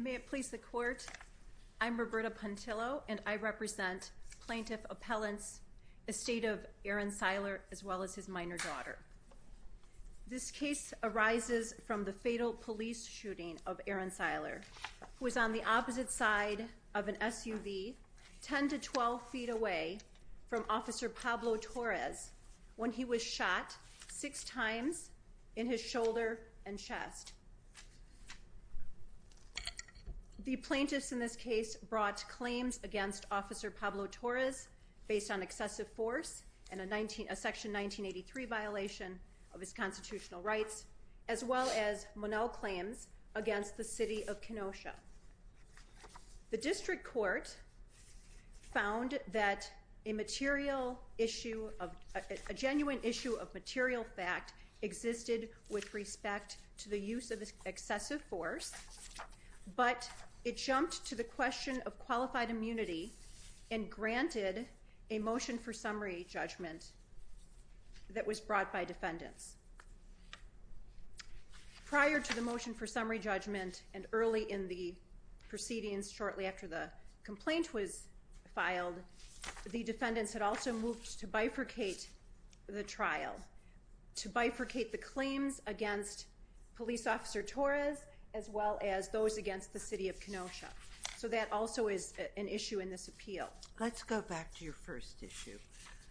May it please the Court, I'm Roberta Pantillo and I represent Plaintiff Appellant's estate of Aaron Siler as well as his minor daughter. This case arises from the fatal police shooting of Aaron Siler who was on the opposite side of an SUV 10 to 12 feet away from officer Pablo Torres when he was shot six times in his shoulder and chest. The plaintiffs in this case brought claims against officer Pablo Torres based on excessive force and a section 1983 violation of his constitutional rights as well as Monell claims against the City of Kenosha. The District Court found that a material issue of a genuine issue of material fact existed with respect to the use of excessive force but it jumped to the granted a motion for summary judgment that was brought by defendants. Prior to the motion for summary judgment and early in the proceedings shortly after the complaint was filed the defendants had also moved to bifurcate the trial to bifurcate the claims against police officer Torres as well as those against the City of Kenosha. So that also is an issue in this appeal. Let's go back to your first issue.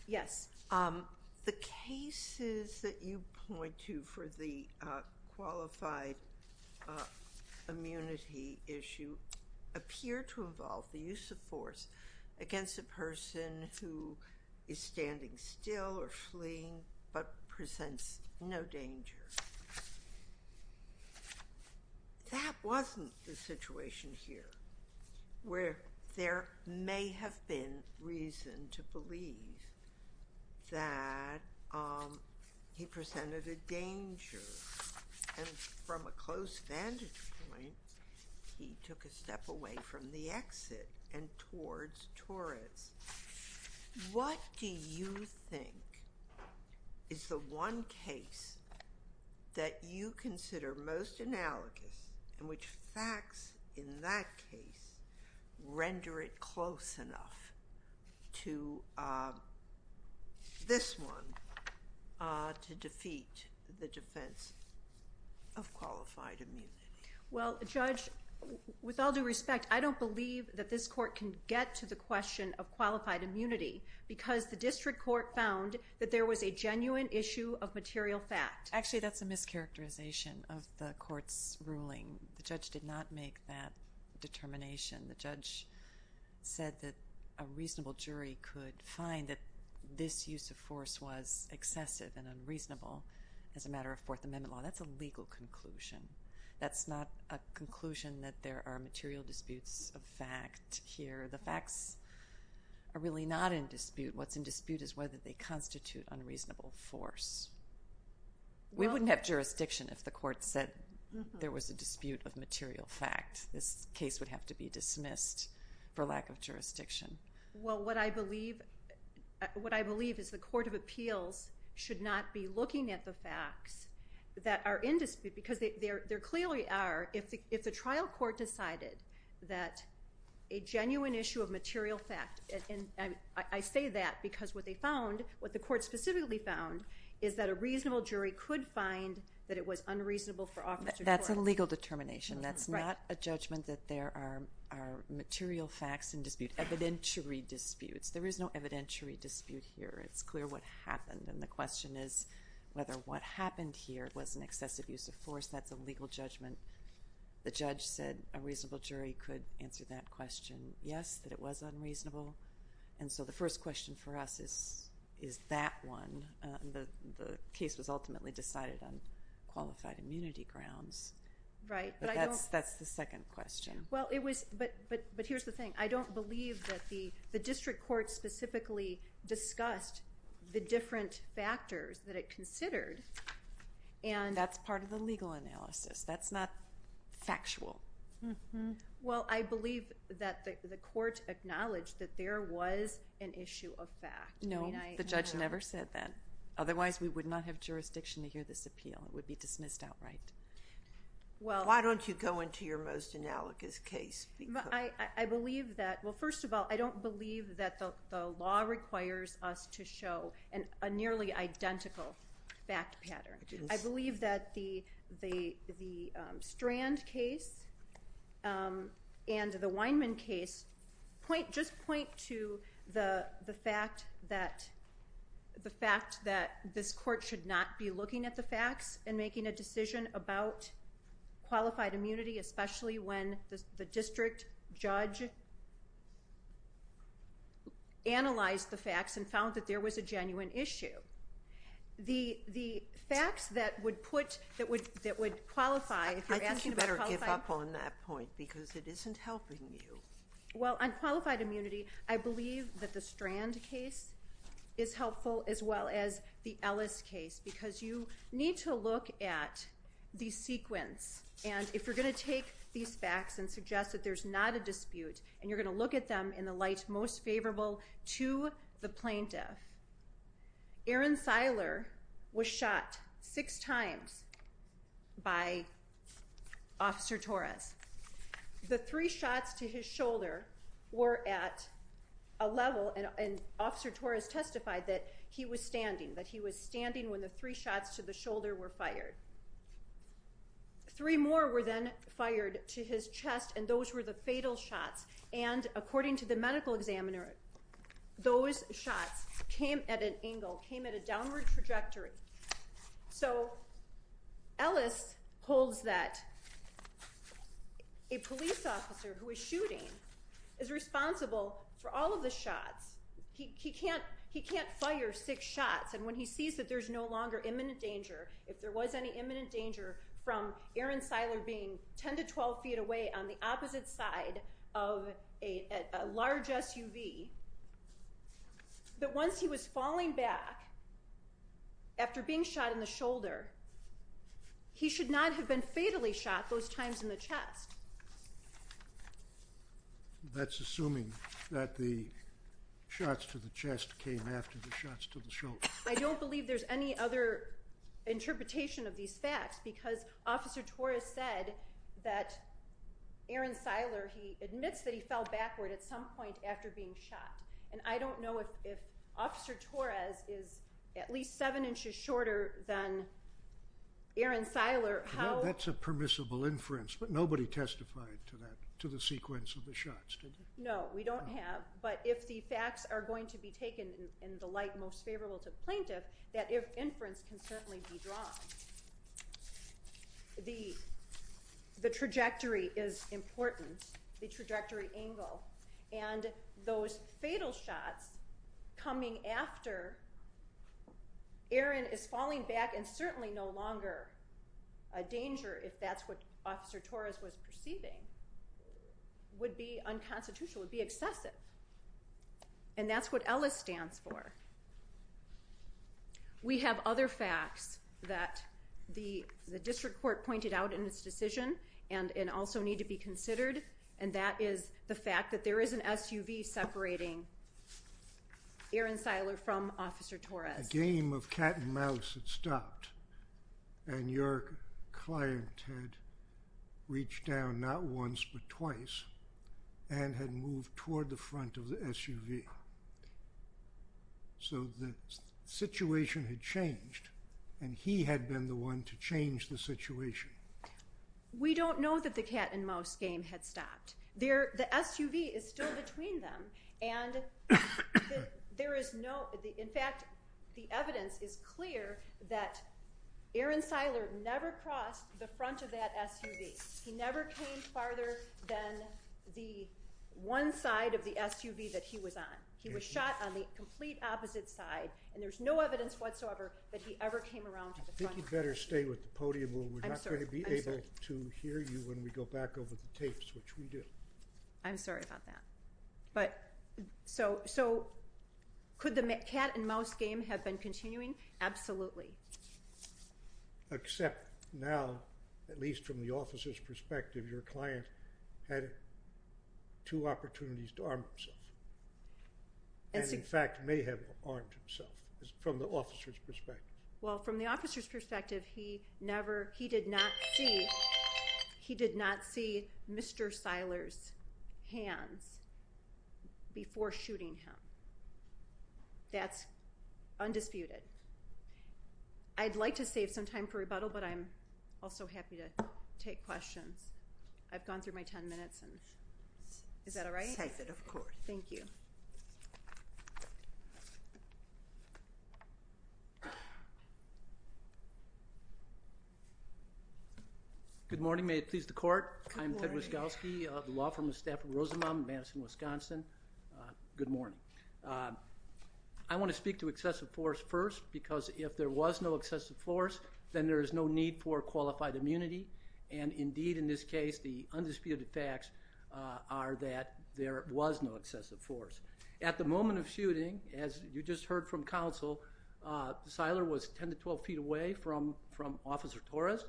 Yes. The cases that you point to for the qualified immunity issue appear to involve the use of force against a person who is standing still or fleeing but presents no danger. That wasn't the situation here where there may have been reason to believe that he presented a danger and from a close vantage point he took a step away from the exit and towards Torres. What do you think is the one case that you consider most analogous and which facts in that case render it close enough to this one to defeat the defense of qualified immunity? Well Judge with all due respect I don't believe that this court can get to the question of qualified immunity because the district court found that there was a genuine issue of material fact. Actually that's a mischaracterization of the court's ruling. The judge did not make that determination. The judge said that a reasonable jury could find that this use of force was excessive and unreasonable as a matter of Fourth Amendment law. That's a legal conclusion. That's not a conclusion that there are material disputes of fact here. The facts are really not in dispute. What's in dispute is whether they constitute unreasonable force. We wouldn't have jurisdiction if the court said there was a dispute of material fact. This case would have to be dismissed for lack of jurisdiction. Well what I believe what I believe is the Court of Appeals should not be looking at the facts that are in dispute because there clearly are if the trial court decided that a genuine issue of material fact and I say that because what they found what the court specifically found is that a reasonable jury could find that it was unreasonable for officers. That's a legal determination. That's not a judgment that there are material facts in dispute evidentiary disputes. There is no evidentiary dispute here. It's clear what happened and the question is whether what use of force that's a legal judgment. The judge said a reasonable jury could answer that question yes that it was unreasonable and so the first question for us is is that one the case was ultimately decided on qualified immunity grounds. Right. That's that's the second question. Well it was but but but here's the thing I don't believe that the the district court specifically discussed the different factors that it considered and that's part of the legal analysis that's not factual. Well I believe that the court acknowledged that there was an issue of fact. No the judge never said that otherwise we would not have jurisdiction to hear this appeal it would be dismissed outright. Well why don't you go into your most analogous case. I believe that well first of all I believe that the the the Strand case and the Weinman case point just point to the the fact that the fact that this court should not be looking at the facts and making a decision about qualified immunity especially when the district judge analyzed the facts and found that there was a genuine issue. The the facts that would put that would that would qualify. I think you better give up on that point because it isn't helping you. Well on qualified immunity I believe that the Strand case is helpful as well as the Ellis case because you need to look at the sequence and if you're going to take these facts and suggest that there's not a dispute and you're going to look at them in the light most favorable to the plaintiff. Aaron Seiler was shot six times by Officer Torres. The three shots to his shoulder were at a level and Officer Torres testified that he was standing that he was standing when the three shots to the shoulder were fired. Three more were then fired to his chest and those were the fatal shots and according to the medical examiner those shots came at an angle came at a downward trajectory. So Ellis holds that a police officer who is shooting is responsible for all of the shots. He can't he can't fire six shots and when he sees that there's no longer imminent danger if there was any feet away on the opposite side of a large SUV that once he was falling back after being shot in the shoulder he should not have been fatally shot those times in the chest. That's assuming that the shots to the chest came after the shots to the shoulder. I don't believe there's any other interpretation of these facts because Officer Torres said that Aaron Seiler he admits that he fell backward at some point after being shot and I don't know if Officer Torres is at least seven inches shorter than Aaron Seiler. That's a permissible inference but nobody testified to that to the sequence of the shots. No we don't have but if the facts are going to be taken in the light most favorable to plaintiff that inference can certainly be drawn. The the trajectory is important the trajectory angle and those fatal shots coming after Aaron is falling back and certainly no longer a danger if that's what Officer Torres was perceiving would be unconstitutional would be excessive and that's what Ellis stands for. We have other facts that the the district court pointed out in this decision and and also need to be considered and that is the fact that there is an SUV separating Aaron Seiler from Officer Torres. A game of cat-and-mouse had stopped and your client had reached down not once but twice and had moved toward the front of the SUV so the situation had changed and he had been the one to change the situation. We don't know that the cat-and-mouse game had stopped there the SUV is still between them and there is no in fact the evidence is clear that Aaron Seiler never crossed the front of that SUV. He never came farther than the one side of the SUV that he was on. He was shot on the complete opposite side and there's no evidence whatsoever that he ever came around. I think you better stay with the podium we're not going to be able to hear you when we go back over the tapes which we do. I'm sorry about that but so so could the cat-and-mouse game have been continuing? Absolutely. Except now at least from the officer's perspective your client had two opportunities to arm himself and in fact may have armed himself from the officer's perspective. Well from the officer's perspective he never he did not see he did not see Mr. Seiler's hands before shooting him. That's undisputed. I'd like to save some time for rebuttal but I'm also happy to take questions. I've gone through my ten minutes and is that all right? Thank you. Good morning may it please the court I'm Ted Wiskowski the law firm of Stafford Rosenbaum Madison Wisconsin. Good morning. I want to speak to excessive force first because if there was no excessive force then there is no need for qualified immunity and indeed in this case the undisputed facts are that there was no excessive force. At the moment of shooting as you just heard from counsel Seiler was 10 to 12 feet away from from Officer Torres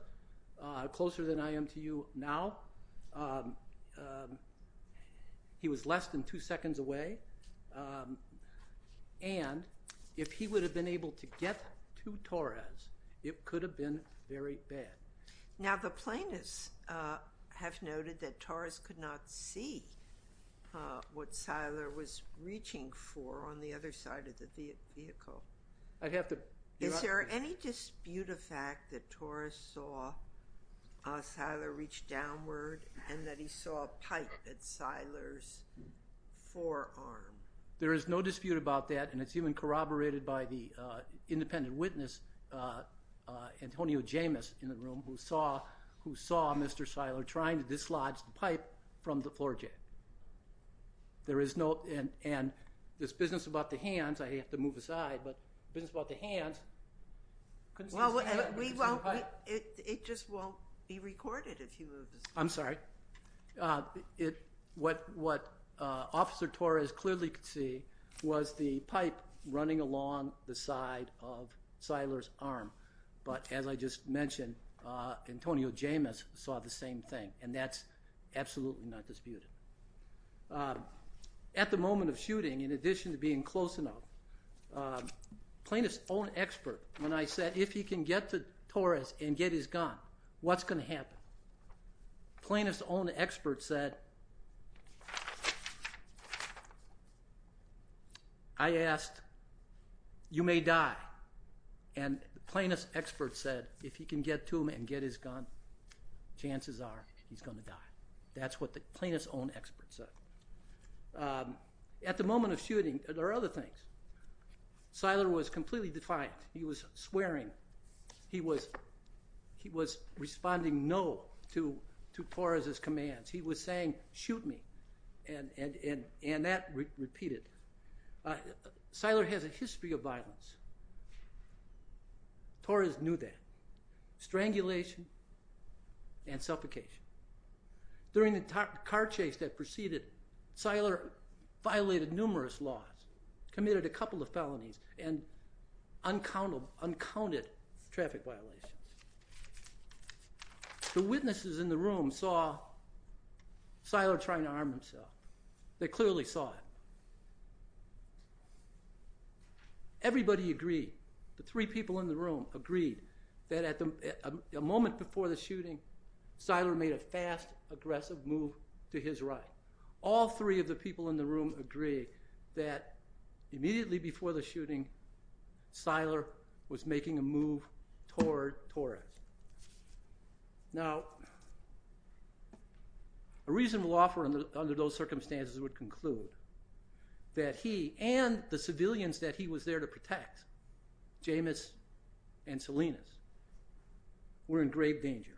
closer than I am to you now. He was less than two seconds away and if he would have been able to get to Torres it could have been very bad. Now the plaintiffs have noted that Torres could not see what Seiler was reaching for on the other side of the vehicle. Is there any dispute of fact that Torres saw Seiler reach downward and that he saw a pipe at Seiler's forearm? There is no dispute about that and it's even corroborated by the independent witness Antonio Jamis in the room who saw who saw Mr. Seiler trying to dislodge the pipe from the hands I have to move aside but business about the hands. It just won't be recorded if you move. I'm sorry it what what Officer Torres clearly could see was the pipe running along the side of Seiler's arm but as I just mentioned Antonio Jamis saw the same thing and that's absolutely not disputed. At the moment of shooting there are other things. I'm not going to go into the details of the shooting. I'm just going to say that the plaintiffs own expert when I said if he can get to Torres and get his gun what's going to happen? Plaintiffs own expert said I asked you may die and plaintiffs expert said if he can get to him and get his gun chances are he's going to die. That's what the plaintiffs own expert said. At the moment of shooting there are other things. Seiler was completely defiant. He was swearing. He was he was responding no to Torres's commands. He was saying shoot me and and and and that repeated. Seiler has a history of violence. Torres knew that. Strangulation and suffocation. During the car chase that proceeded Seiler violated numerous laws, committed a couple of felonies and uncountable Seiler trying to arm himself. They clearly saw it. Everybody agreed. The three people in the room agreed that at the moment before the shooting Seiler made a fast aggressive move to his right. All three of the people in the room agree that immediately before the shooting Seiler was making a move toward Torres. Now a reasonable offer under those circumstances would conclude that he and the civilians that he was there to protect, Jamis and Salinas, were in grave danger.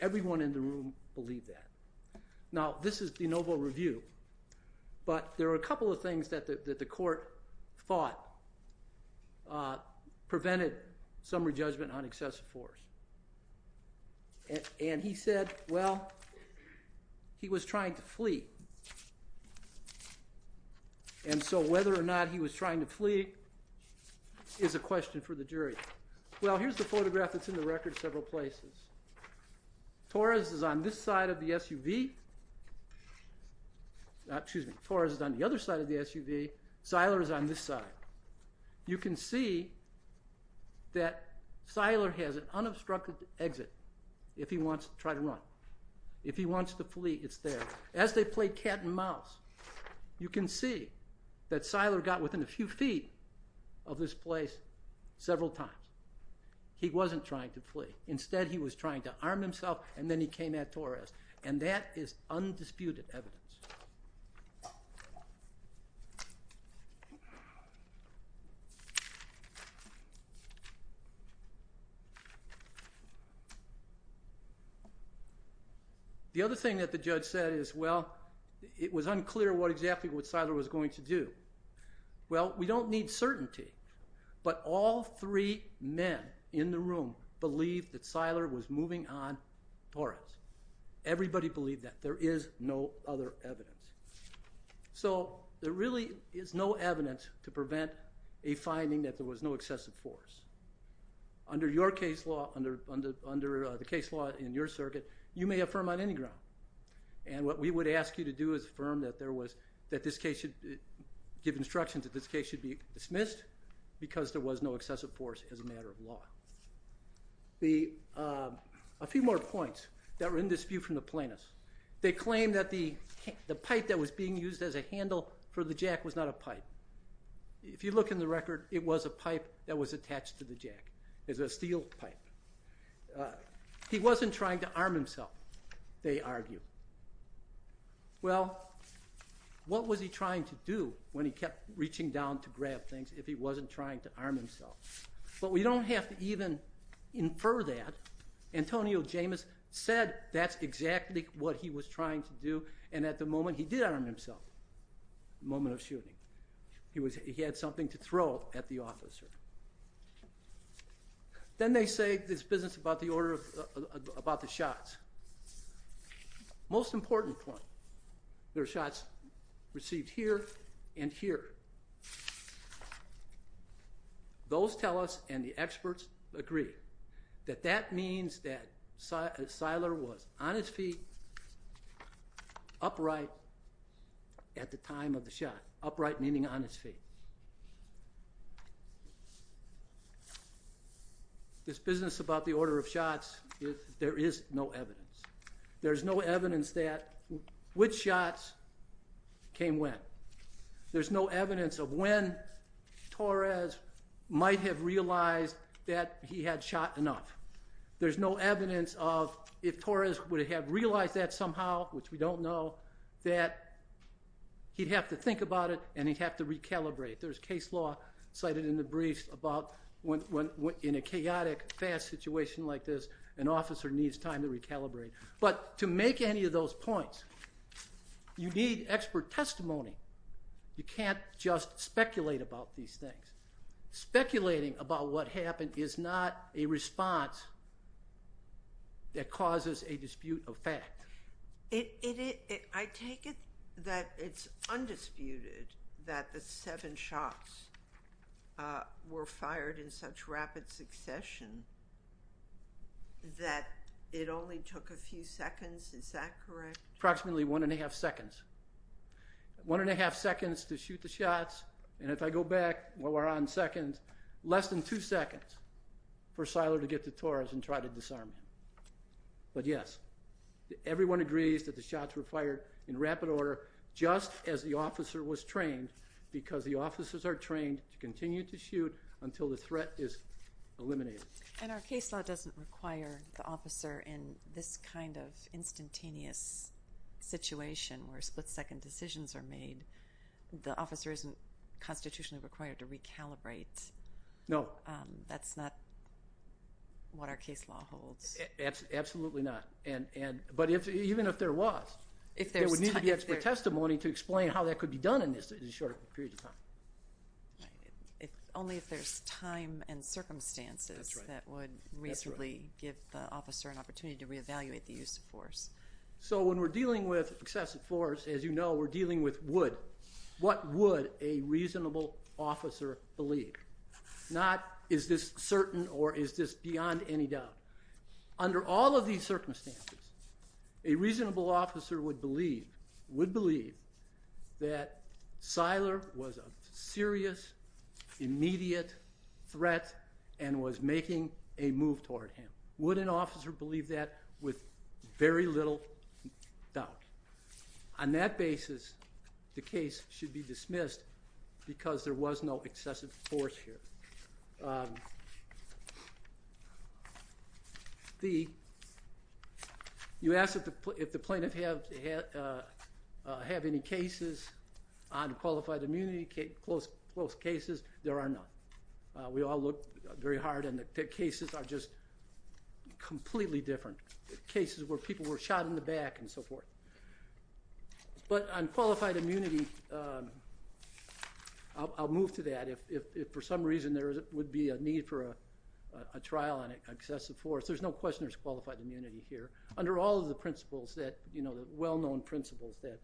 Everyone in the room believed that. Now this is de novo review but there are a couple of things that the court thought prevented summary he was trying to flee and so whether or not he was trying to flee is a question for the jury. Well here's the photograph that's in the record several places. Torres is on this side of the SUV. Excuse me, Torres is on the other side of the SUV. Seiler is on this side. You can see that Seiler has an unobstructed exit if he wants to flee it's there. As they played cat and mouse you can see that Seiler got within a few feet of this place several times. He wasn't trying to flee. Instead he was trying to arm himself and then he came at Torres and that is undisputed evidence. The other thing that the judge said is well it was unclear what exactly what Seiler was going to do. Well we don't need certainty but all three men in the room believed that Seiler was moving on Torres. Everybody believed that. There is no other evidence. So there really is no evidence to prevent a finding that there was no excessive force. Under your case law, under the case law in your circuit, you may affirm on any ground and what we would ask you to do is affirm that there was that this case should give instructions that this case should be dismissed because there was no excessive force as a matter of law. A few more points that were in dispute from the plaintiffs. They claimed that the pipe that was being used as a handle for the jack was not a pipe. If you look in the record it was a pipe that was attached to the jack. It was a steel pipe. He was trying to arm himself, they argue. Well what was he trying to do when he kept reaching down to grab things if he wasn't trying to arm himself? But we don't have to even infer that. Antonio Jameis said that's exactly what he was trying to do and at the moment he did arm himself. The moment of shooting. He was he had something to throw at the officer. Then they say this business about the order of about the shots. Most important point, there are shots received here and here. Those tell us and the experts agree that that means that Siler was on his feet upright at the time of the shot. Upright meaning on his feet. This business about the order of shots, there is no evidence. There's no evidence that which shots came when. There's no evidence of when Torres might have realized that he had shot enough. There's no evidence of if Torres would have realized that somehow, which we don't know, that he'd have to think about it and he'd have to recalibrate. There's case law cited in the briefs about when in a chaotic fast situation like this an officer needs time to recalibrate. But to make any of those points, you need expert testimony. You can't just speculate about these things. Speculating about what happened is not a response that causes a that the seven shots were fired in such rapid succession that it only took a few seconds, is that correct? Approximately one and a half seconds. One and a half seconds to shoot the shots and if I go back while we're on seconds, less than two seconds for Siler to get to Torres and try to disarm him. But yes, everyone agrees that the shots were fired in rapid order just as the officer was trained because the officers are trained to continue to shoot until the threat is eliminated. And our case law doesn't require the officer in this kind of instantaneous situation where split-second decisions are made. The officer isn't constitutionally required to recalibrate. No. That's not what our if there was, there would need to be expert testimony to explain how that could be done in this short period of time. Only if there's time and circumstances that would reasonably give the officer an opportunity to re-evaluate the use of force. So when we're dealing with excessive force, as you know, we're dealing with would. What would a reasonable officer believe? Not is this certain or is this beyond any doubt? Under all of these circumstances, a reasonable officer would believe that Siler was a serious, immediate threat and was making a move toward him. Would an officer believe that with very little doubt? On that basis, the case should be dismissed because there was no have any cases on qualified immunity, close cases. There are none. We all look very hard and the cases are just completely different. Cases where people were shot in the back and so forth. But on qualified immunity, I'll move to that if for some reason there would be a need for a trial on excessive force, there's no question there's qualified immunity here. Under all of the well-known principles that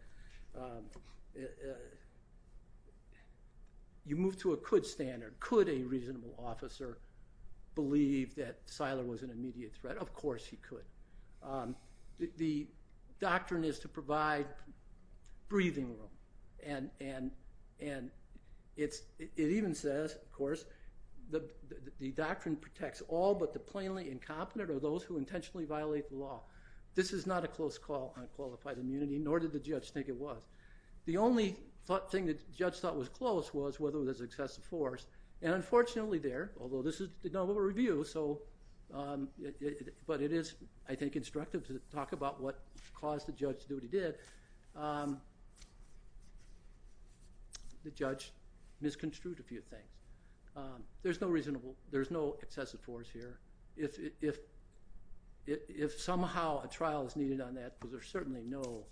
you move to a could standard, could a reasonable officer believe that Siler was an immediate threat? Of course he could. The doctrine is to provide breathing room and it even says, of course, the doctrine protects all but the plainly incompetent or those who on qualified immunity, nor did the judge think it was. The only thing that judge thought was close was whether there's excessive force. And unfortunately there, although this is a review, but it is, I think, instructive to talk about what caused the judge to do what he did. The judge misconstrued a few things. There's no reasonable, there's no excessive force here. If somehow a trial is needed on that because there's certainly no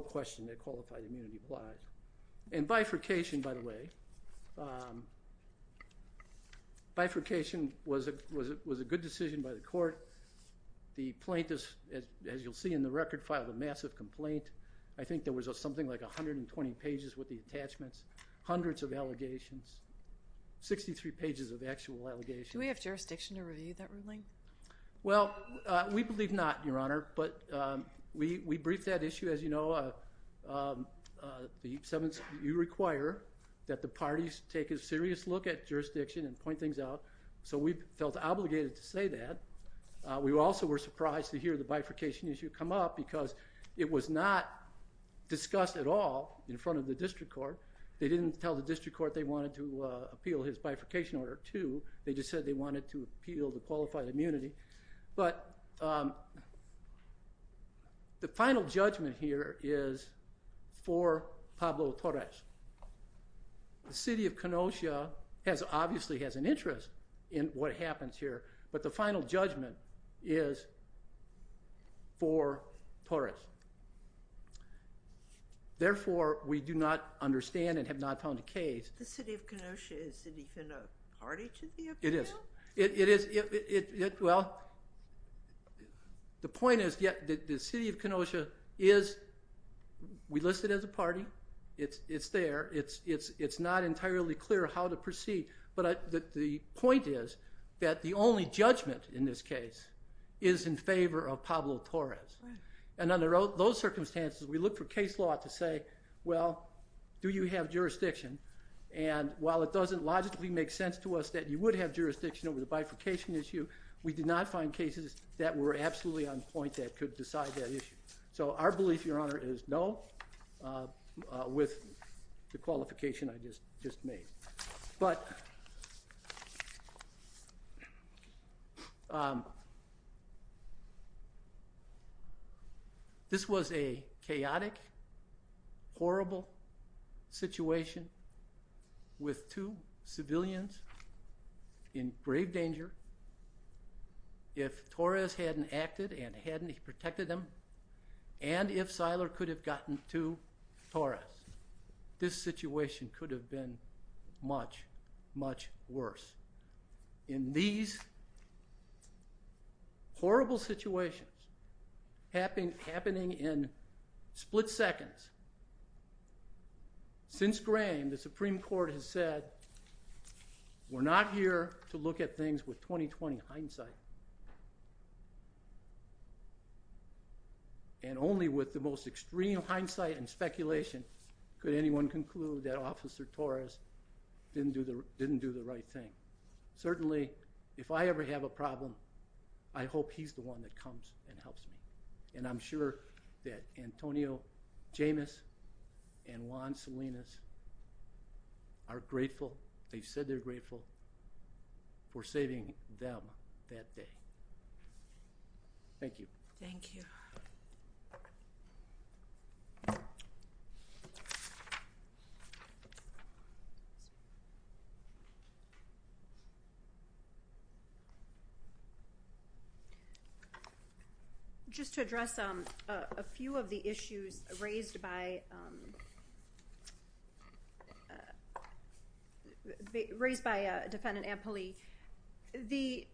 question that qualified immunity applies. And bifurcation, by the way, bifurcation was a good decision by the court. The plaintiffs, as you'll see in the record, filed a massive complaint. I think there was something like a hundred and twenty pages with the attachments, hundreds of allegations, 63 pages of actual allegations. Do we have that, Your Honor? But we briefed that issue. As you know, the 7th you require that the parties take a serious look at jurisdiction and point things out. So we felt obligated to say that. We also were surprised to hear the bifurcation issue come up because it was not discussed at all in front of the district court. They didn't tell the district court they wanted to appeal his bifurcation order too. They just said they wanted to appeal the qualified immunity. But the final judgment here is for Pablo Torres. The city of Kenosha obviously has an interest in what happens here, but the final judgment is for Torres. Therefore, we do not understand and have not found a case. The city of Kenosha, is it even a party to the appeal? It is. Well, the point is that the city of Kenosha is, we list it as a party, it's there, it's not entirely clear how to proceed, but the point is that the only judgment in this case is in favor of Pablo Torres. And under those circumstances, we look for case law to say, well, do you have jurisdiction? And while it doesn't logically make sense to us that you would have jurisdiction over the bifurcation issue, we did not find cases that were absolutely on point that could decide that issue. So our belief, Your Honor, is no, with the qualification I just made. But this was a chaotic, horrible situation with two civilians in grave danger. If Torres hadn't acted and protected them, and if Siler could have gotten to Torres, this situation could have been much, much worse. In these horrible situations happening in split seconds, since Graham, the Supreme Court has said, we're not here to judge, and only with the most extreme hindsight and speculation could anyone conclude that Officer Torres didn't do the right thing. Certainly, if I ever have a problem, I hope he's the one that comes and helps me. And I'm sure that Antonio Jamis and Juan Salinas are grateful, they said they're grateful, for saving them that day. Thank you. Thank you. Just to address a few of the issues raised by, raised by Defendant Ampoli, the,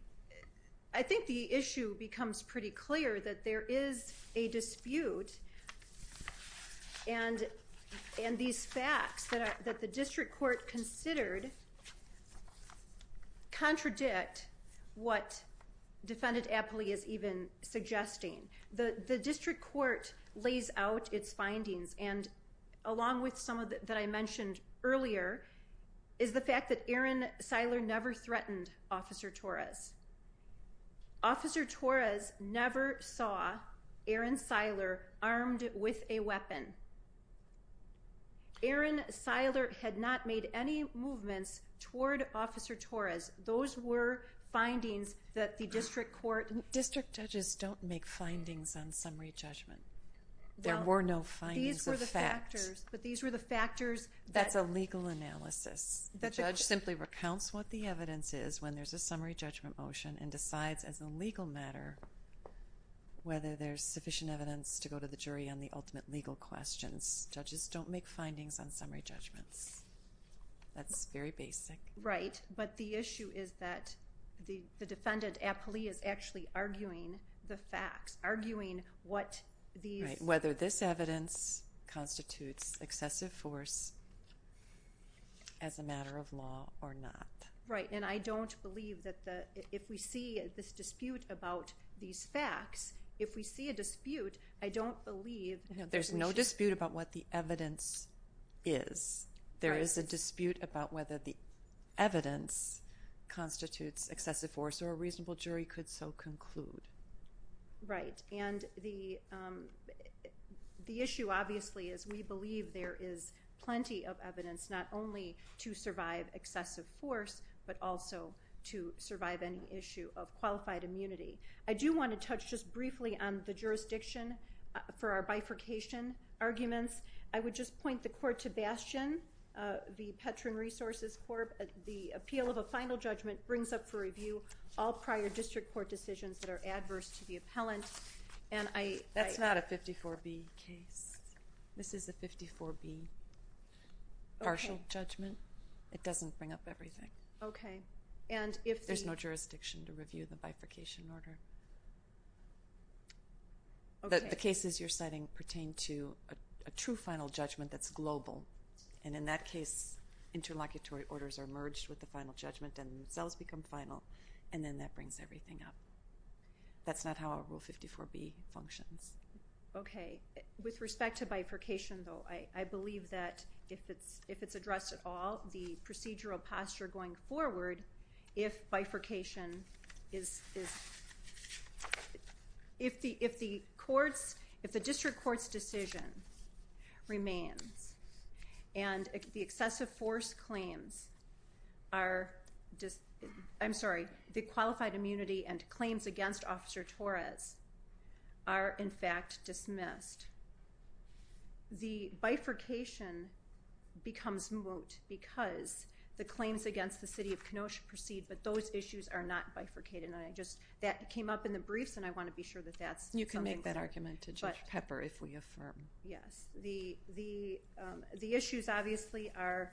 I think the issue becomes pretty clear that there is a And, and these facts that the District Court considered contradict what Defendant Ampoli is even suggesting. The District Court lays out its findings, and along with some of that I mentioned earlier, is the fact that Aaron Siler never threatened Officer Torres. Officer Torres never saw Aaron Siler armed with a weapon. Aaron Siler had not made any movements toward Officer Torres. Those were findings that the District Court... District judges don't make findings on summary judgment. There were no findings. These were the factors, but these were the factors... That's a legal analysis. The judge simply recounts what the evidence is when there's a summary judgment motion and decides as a legal matter whether there's sufficient evidence to go to the jury on the ultimate legal questions. Judges don't make findings on summary judgments. That's very basic. Right, but the issue is that the, the Defendant Ampoli is actually arguing the facts, arguing what these... Right, whether this evidence constitutes excessive force as a matter of law or not. Right, and I don't believe that the, if we see this dispute about these facts, if we see a dispute, I don't believe... There's no dispute about what the evidence is. There is a dispute about whether the evidence constitutes excessive force or a reasonable jury could so conclude. Right, and the, the issue obviously is we believe there is plenty of evidence not only to survive excessive force, but also to survive any issue of qualified immunity. I do want to touch just briefly on the jurisdiction for our bifurcation arguments. I would just point the court to Bastion, the Petron Resources Corp. The appeal of a final judgment brings up for review all prior district court decisions that are adverse to the appellant, and I... That's not a 54B case. This is a 54B partial judgment. It doesn't bring up everything. Okay, and if... There's no jurisdiction to review the bifurcation order. The cases you're citing pertain to a true final judgment that's global, and in that case, interlocutory orders are merged with the final judgment and themselves become final, and then that brings everything up. That's not how a Rule 54B functions. Okay, with respect to bifurcation, though, I believe that if it's, if it's addressed at all, the procedural posture going forward, if bifurcation is, is... If the, if the courts, if the district court's decision remains, and the excessive force claims are just, I'm sorry, the qualified immunity and claims against Officer Torres are in fact dismissed, the bifurcation becomes moot because the claims against the City of Kenosha proceed, but those issues are not bifurcated, and I just... That came up in the briefs, and I want to be sure that that's... You can make that argument to Judge Pepper if we affirm. Yes, the issues obviously are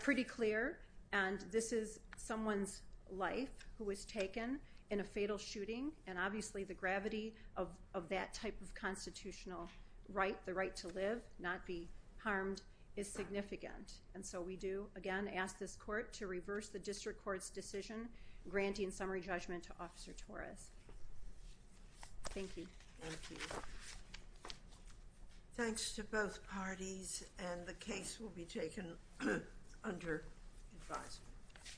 pretty clear, and this is someone's life who was taken in a fatal shooting, and obviously the gravity of that type of constitutional right, the right to live, not be harmed, is significant, and so we do again ask this court to reverse the district court's decision, granting summary judgment to Officer Torres. Thank you. Thanks to both parties, and the case will be taken under advisement.